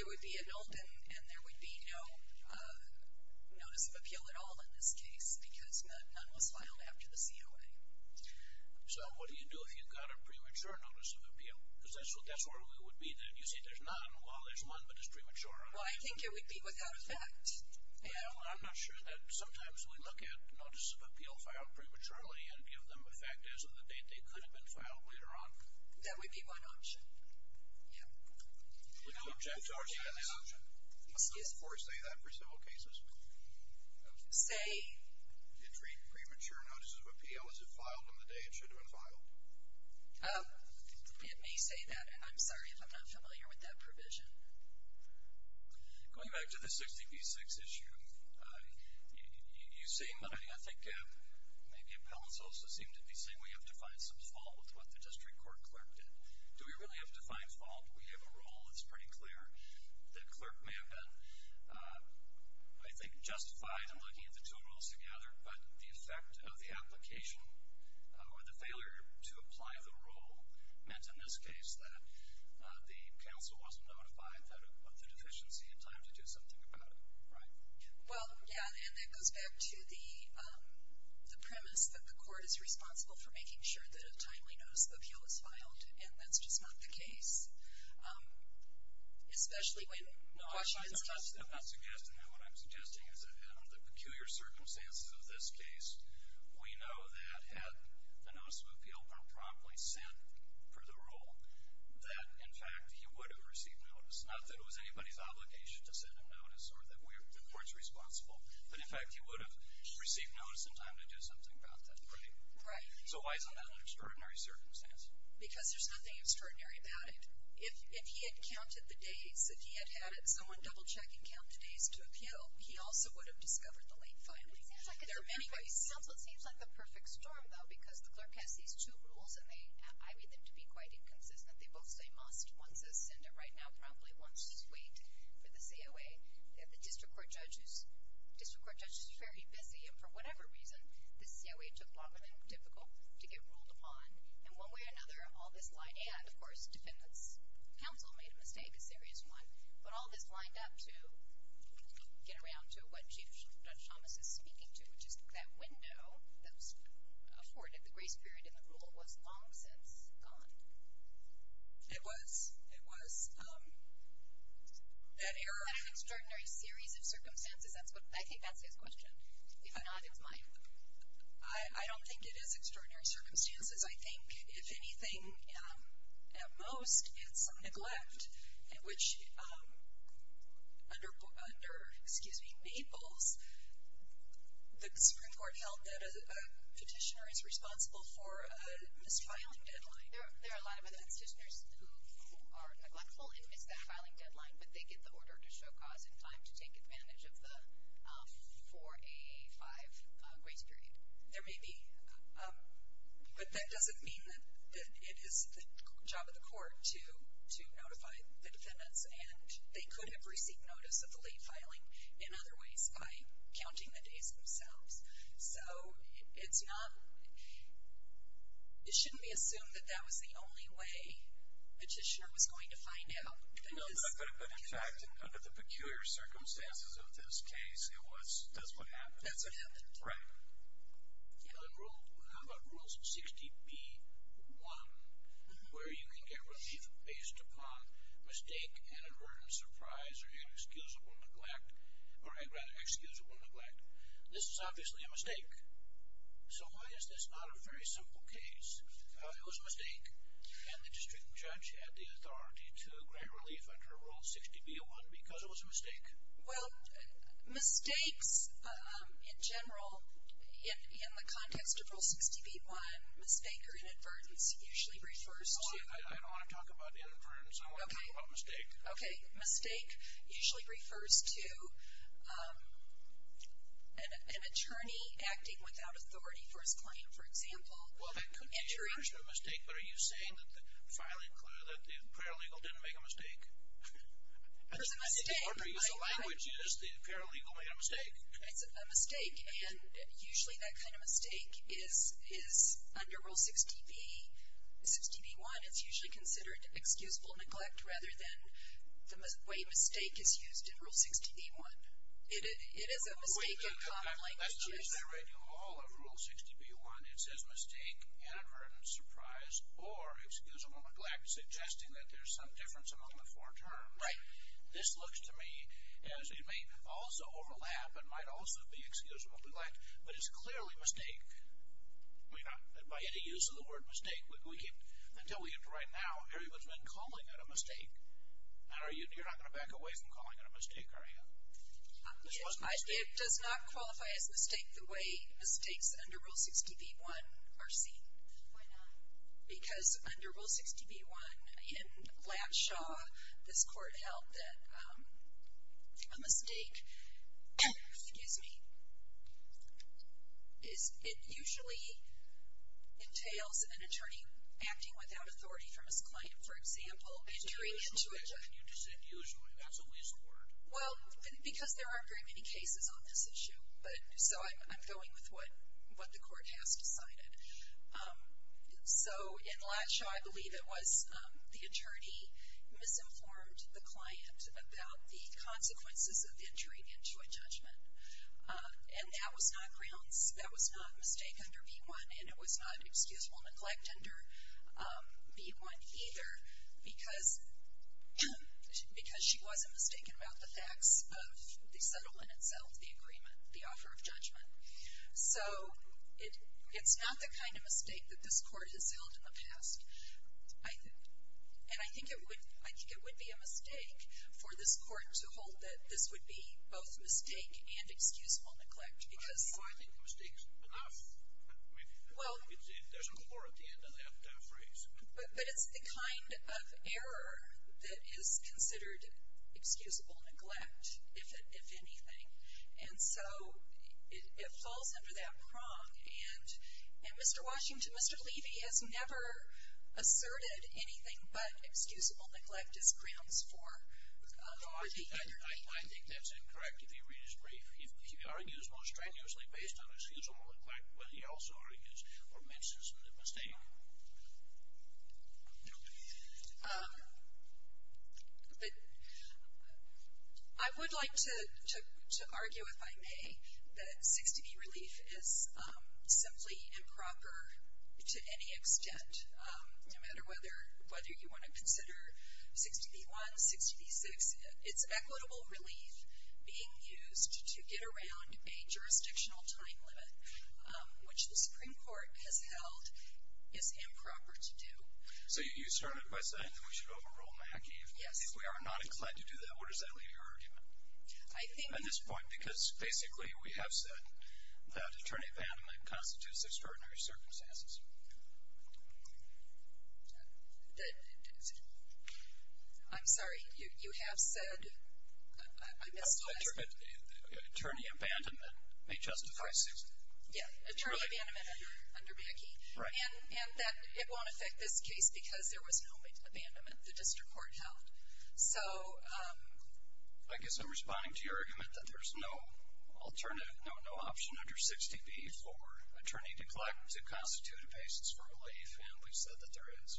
It would be a nullity and there would be no notice of appeal at all in this case because none was filed after the COA. So what do you do if you've got a premature notice of appeal? Because that's where we would be then. You say there's none. Well, there's one that is premature. Well, I think it would be without effect. Well, I'm not sure that sometimes we look at notice of appeal filed prematurely and give them a fact as of the date they could have been filed later on. That would be one option. Yeah. We don't object to our standing option. Does the court say that for civil cases? Say. Between premature notices of appeal, is it filed on the day it should have been filed? It may say that. And I'm sorry if I'm not familiar with that provision. Going back to the 60 v 6 issue, you say money. I think maybe appellants also seem to be saying we have to find some fault with what the district court clerk did. Do we really have to find fault? Do we have a rule that's pretty clear that clerk may have been, I think, justified in looking at the two rules together, but the effect of the application or the failure to apply the rule meant in this case that the counsel wasn't notified of the deficiency in time to do something about it, right? Well, yeah, and that goes back to the premise that the court is responsible for making sure that a timely notice of appeal is filed, and that's just not the case, especially when Washington's custody. No, I'm not suggesting that. What I'm suggesting is that in the peculiar circumstances of this case, we know that had the notice of appeal been promptly sent for the rule, that in fact, he would have received notice. Not that it was anybody's obligation to send a notice or that the court's responsible, but in fact, he would have received notice in time to do something about that, right? Right. So why is that an extraordinary circumstance? Because there's nothing extraordinary about it. If he had counted the days, if he had had someone double-check and count the days to appeal, he also would have discovered the late filing. It seems like it's a perfect storm, though, because the clerk has these two rules, and I read them to be quite inconsistent. They both say must, one says send it right now, probably, one says wait for the COA. The district court judges are very busy, and for whatever reason, the COA took longer than typical to get ruled upon. And one way or another, all this line, and of course, defendant's counsel made a mistake, a serious one. But all this lined up to get around to what Chief Judge Thomas is speaking to, which is that window that was afforded, the grace period in the rule, was long since gone. It was. It was. That error. An extraordinary series of circumstances, that's what, I think that's his question. If not, it's mine. I don't think it is extraordinary circumstances. I think, if anything, at most, it's some neglect, which under, excuse me, Maples, the Supreme Court held that a petitioner is responsible for a misfiling deadline. There are a lot of other petitioners who are neglectful and miss that filing deadline, but they get the order to show cause in time to take advantage of the 4AA5 grace period. There may be, but that doesn't mean that it is the job of the court to notify the defendants, and they could have received notice of the late filing in other ways by counting the days themselves. So, it's not, it shouldn't be assumed that that was the only way a petitioner was going to find out. No, but in fact, under the peculiar circumstances of this case, it was, that's what happened. That's what happened. Right. And on rule, how about rules 60B1, where you can get relief based upon mistake and a burden of surprise or inexcusable neglect, or rather, excusable neglect. This is obviously a mistake, so why is this not a very simple case? It was a mistake, and the district judge had the authority to grant relief under rule 60B1 because it was a mistake. Well, mistakes, in general, in the context of rule 60B1, mistake or inadvertence usually refers to. I don't want to talk about inadvertence. I want to talk about mistake. Okay. Mistake usually refers to an attorney acting without authority for his claim. For example. Well, that could be a mistake, but are you saying that the filing clerk, that the paralegal didn't make a mistake? It was a mistake. I think the order used, the language used, the paralegal made a mistake. It's a mistake, and usually that kind of mistake is, is under rule 60B1, and it's usually considered excusable neglect rather than the way mistake is used in rule 60B1. It is a mistake in common languages. I read you all of rule 60B1. It says mistake, inadvertence, surprise, or excusable neglect, suggesting that there's some difference among the four terms. Right. This looks to me as, it may also overlap. It might also be excusable neglect, but it's clearly mistake. We're not, by any use of the word mistake, we can't, until we get to right now, everyone's been calling it a mistake. And are you, you're not going to back away from calling it a mistake, are you? It does not qualify as mistake the way mistakes under rule 60B1 are seen. Why not? Because under rule 60B1, in Lanshaw, this court held that a mistake, excuse me, is it usually entails an attorney acting without authority from his client. For example, entering into a judgment. And you just said usually. That's a weasel word. Well, because there aren't very many cases on this issue, but so I'm going with what the court has decided. So, in Lanshaw, I believe it was the attorney misinformed the client about the consequences of entering into a judgment. And that was not grounds, that was not a mistake under B1, and it was not excusable neglect under B1 either, because she wasn't mistaken about the facts of the settlement itself, the agreement, the offer of judgment. So, it's not the kind of mistake that this court has held in the past, I think. And I think it would be a mistake for this court to hold that this would be both mistake and excusable neglect, because. Well, I think the mistake's enough. I mean, there's an or at the end of that phrase. But it's the kind of error that is considered excusable neglect, if anything. And so, it falls under that prong. And Mr. Washington, Mr. Levy has never asserted anything but excusable neglect as grounds for the error. I think that's incorrect, if you read his brief. He argues most strenuously based on excusable neglect, but he also argues or mentions the mistake. But I would like to argue, if I may, that 6dB relief is simply improper to any extent, no matter whether you want to consider 6dB1, 6dB6. It's equitable relief being used to get around a jurisdictional time limit, which the Supreme Court has held is improper to do. So, you started by saying that we should overrule MACI. Yes. If we are not inclined to do that, what does that leave your argument? I think. At this point, because basically, we have said that attorney abandonment constitutes extraordinary circumstances. I'm sorry, you have said, I misplaced it. Attorney abandonment may justify 6dB. Yes. Attorney abandonment under MACI. Right. And that it won't affect this case because there was no abandonment. The district court held. So. I guess I'm responding to your argument that there's no alternative, no option under 6dB for attorney neglect to constitute a basis for relief, and we've said that there is.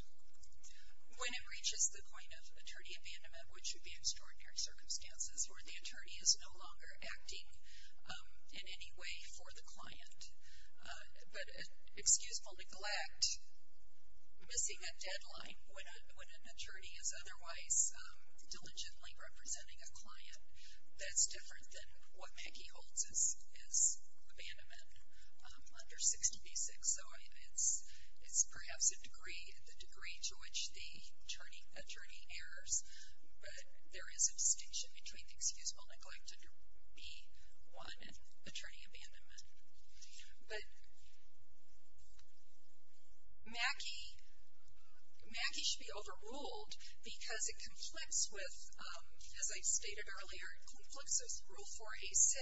When it reaches the point of attorney abandonment, which would be extraordinary circumstances where the attorney is no longer acting in any way for the client. But excusable neglect, missing a deadline when an attorney is otherwise diligently representing a client, that's different than what MACI holds as abandonment under 6dB6. So, it's perhaps a degree, the degree to which the attorney errs, but there is a distinction between excusable neglect under B1 and attorney abandonment. But MACI, MACI should be overruled because it conflicts with, as I stated earlier, it conflicts with Rule 4A6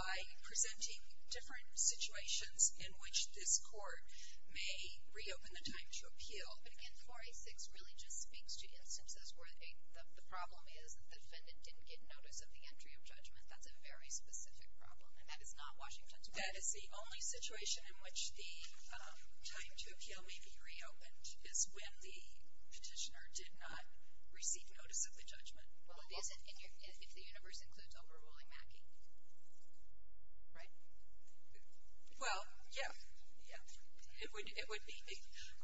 by presenting different situations in which this court may reopen the time to appeal. Oh, but again, 4A6 really just speaks to instances where the problem is that the defendant didn't get notice of the entry of judgment. That's a very specific problem, and that is not Washington's problem. That is the only situation in which the time to appeal may be reopened is when the petitioner did not receive notice of the judgment. Well, it isn't if the universe includes overruling MACI, right? Well, yeah. Yeah. It would be.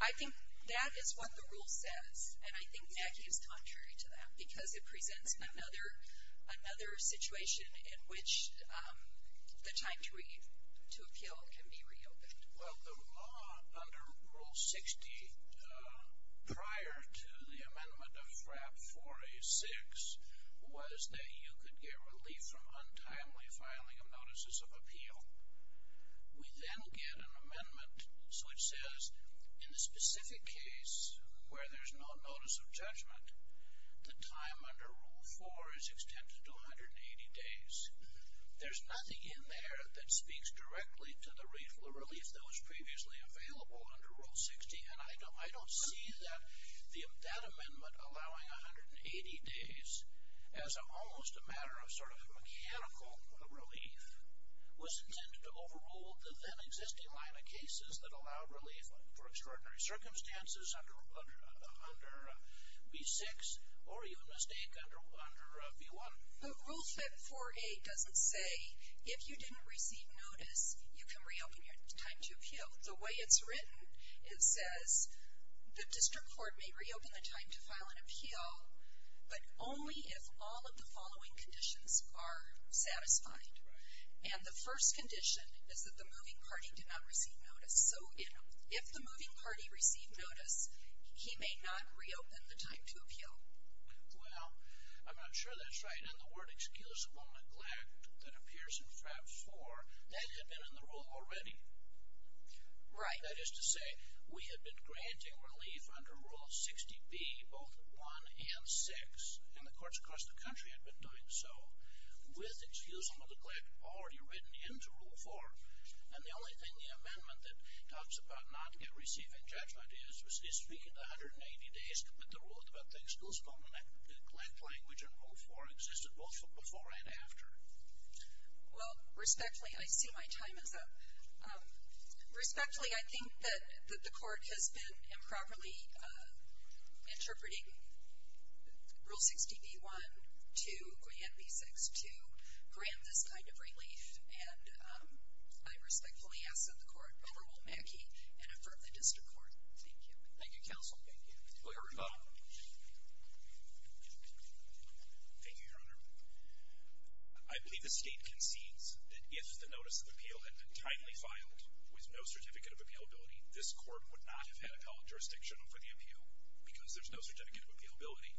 I think that is what the rule says, and I think MACI is contrary to that because it presents another situation in which the time to appeal can be reopened. Well, the law under Rule 60 prior to the amendment of FRAP 4A6 was that you could get relief from untimely filing of notices of appeal. We then get an amendment which says, in the specific case where there's no notice of judgment, the time under Rule 4 is extended to 180 days. There's nothing in there that speaks directly to the relief that was previously available under Rule 60, and I don't see that amendment allowing 180 days as almost a matter of sort of mechanical relief was intended to overrule the then existing line of cases that allow relief for extraordinary circumstances under B6 or, you would mistake, under B1. The Rule 548 doesn't say if you didn't receive notice, you can reopen your time to appeal. The way it's written, it says the district court may reopen the time to file an appeal, but only if all of the following conditions are satisfied. And the first condition is that the moving party did not receive notice. So if the moving party received notice, he may not reopen the time to appeal. Well, I'm not sure that's right. In the word excusable neglect that appears in FRAP 4, that had been in the rule already. Right. That is to say, we had been granting relief under Rule 60B, both 1 and 6, and the courts across the country had been doing so, with excusable neglect already written into Rule 4. And the only thing the amendment that talks about not receiving judgment is, is speaking to 180 days to put the rule into effect. Still, excusable neglect language in Rule 4 existed both before and after. Well, respectfully, I see my time is up. Respectfully, I think that the court has been improperly interpreting Rule 60B1 to Grant B6 to grant this kind of relief. And I respectfully ask that the court overrule Mackey and affirm the district court. Thank you. Thank you, Counsel. Clerk, you're up. Thank you, Your Honor. I believe the state concedes that if the notice of appeal had been timely filed with no certificate of appealability, this court would not have had appellate jurisdiction for the appeal because there's no certificate of appealability.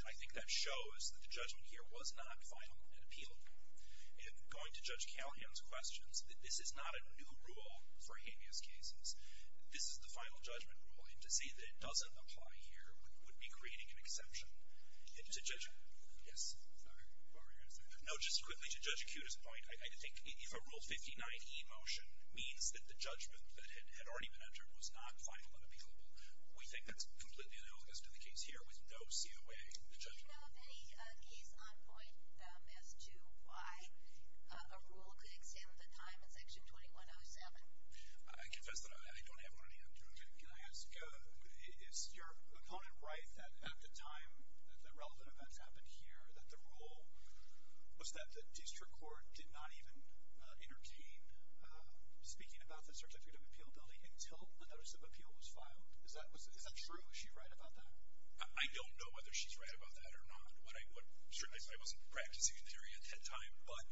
And I think that shows that the judgment here was not final and appealable. And going to Judge Callahan's questions, this is not a new rule for habeas cases. This is the final judgment rule. And to say that it doesn't apply here would be creating an exception. And to Judge, yes. Sorry, are we going to say that? No, just quickly to Judge Acuta's point, I think if a Rule 59E motion means that the judgment that had already been entered was not final and appealable, we think that's completely analogous to the case here with no COA in the judgment. Do you know of any case on point as to why a rule could extend the time in Section 2107? I confess that I don't have one on the end. Can I ask, is your opponent right that at the time that the relevant events happened here that the rule was that the district court did not even entertain speaking about the certificate of appealability until the notice of appeal was filed? Is that true? Is she right about that? I don't know whether she's right about that or not. What I, certainly I wasn't practicing theory at that time. But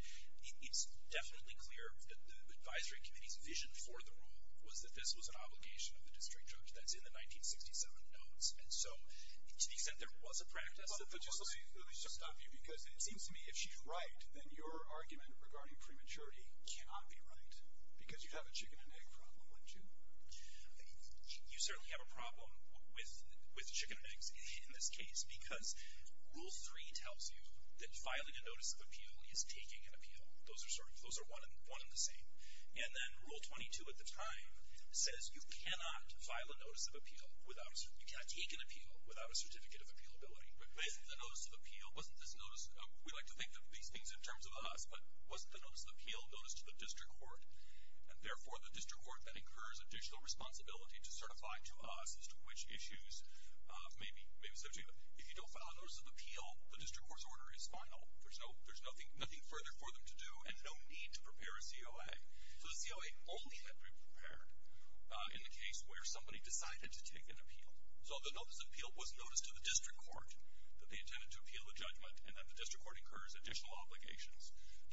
it's definitely clear that the advisory committee's vision for the rule was that this was an obligation of the district judge. That's in the 1967 notes. And so, to the extent there was a practice that the court. But just let me stop you because it seems to me if she's right, then your argument regarding prematurity cannot be right because you'd have a chicken and egg problem, wouldn't you? You certainly have a problem with chicken and eggs in this case because Rule 3 tells you that filing a notice of appeal is taking an appeal. Those are sort of, those are one and the same. And then Rule 22 at the time says you cannot file a notice of appeal without, you cannot take an appeal without a certificate of appealability. But wasn't the notice of appeal, wasn't this notice of, we like to think of these things in terms of us, but wasn't the notice of appeal notice to the district court? And therefore, the district court then incurs additional responsibility to certify to us as to which issues may be, may be subject. If you don't file a notice of appeal, the district court's order is final. There's no, there's nothing, nothing further for them to do and no need to prepare a COA. So the COA only had to be prepared in the case where somebody decided to take an appeal. So the notice of appeal was notice to the district court that they intended to appeal the judgment and that the district court incurs additional obligations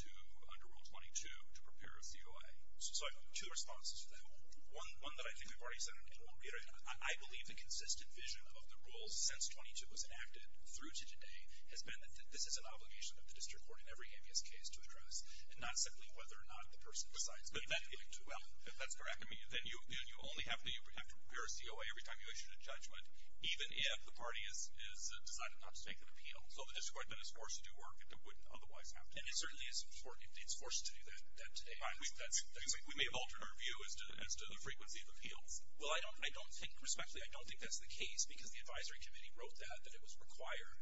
to under Rule 22 to prepare a COA. So I have two responses to that. One, one that I think I've already said, and I believe the consistent vision of the rules since 22 was enacted through to today has been that this is an obligation of the district court in every AMES case to address and not simply whether or not the person decides to make that appeal. Well, if that's correct, then you only have to prepare a COA every time you issue a judgment, even if the party is, is decided not to take an appeal. So the district court then is forced to do work that it wouldn't otherwise have to. And it certainly isn't for, it's forced to do that, that today. I mean, that's, we may have altered our view as to, as to the frequency of appeals. Well, I don't, I don't think, respectfully, I don't think that's the case because the advisory committee wrote that, that it was required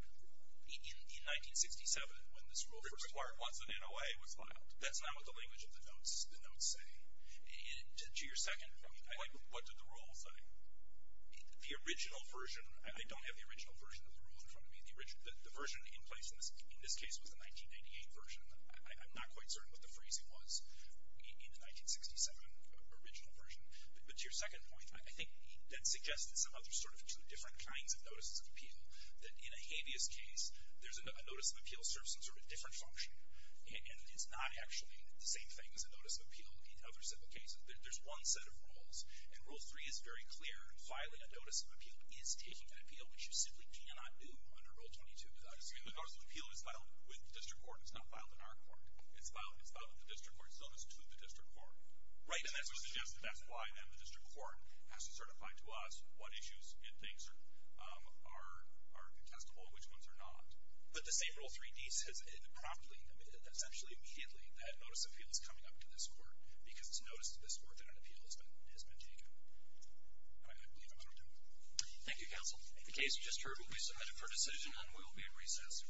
in, in 1967 when this rule was required. Once an NOA was filed. That's not what the language of the notes, the notes say. And to, to your second point, I. What, what did the rule say? The, the original version, I don't have the original version of the rule in front of me. The original, the, the version in place in this, in this case was the 1998 version. I, I'm not quite certain what the phrasing was in, in the 1967 original version. But, but to your second point, I, I think that suggests that some other sort of two different kinds of notices of appeal. That in a habeas case, there's a, a notice of appeal serves some sort of different function. And, and it's not actually the same thing as a notice of appeal in other civil cases. There, there's one set of rules. And rule three is very clear. Filing a notice of appeal is taking an appeal, which you simply cannot do under rule 22 without a civil case. And the notice of appeal is filed with the district court. It's not filed in our court. It's filed, it's filed with the district court. It's noticed to the district court. Right, and that's what suggested, that's why then the district court has to certify to us what issues it thinks are, are, are contestable and which ones are not. But the same rule 3D says it promptly, essentially immediately, that notice of appeal is coming up to this court. Because it's noticed to this court that an appeal has been, has been taken. And I, I believe I'm through, too. Thank you, counsel. The case you just heard will be submitted for decision and will be at recess.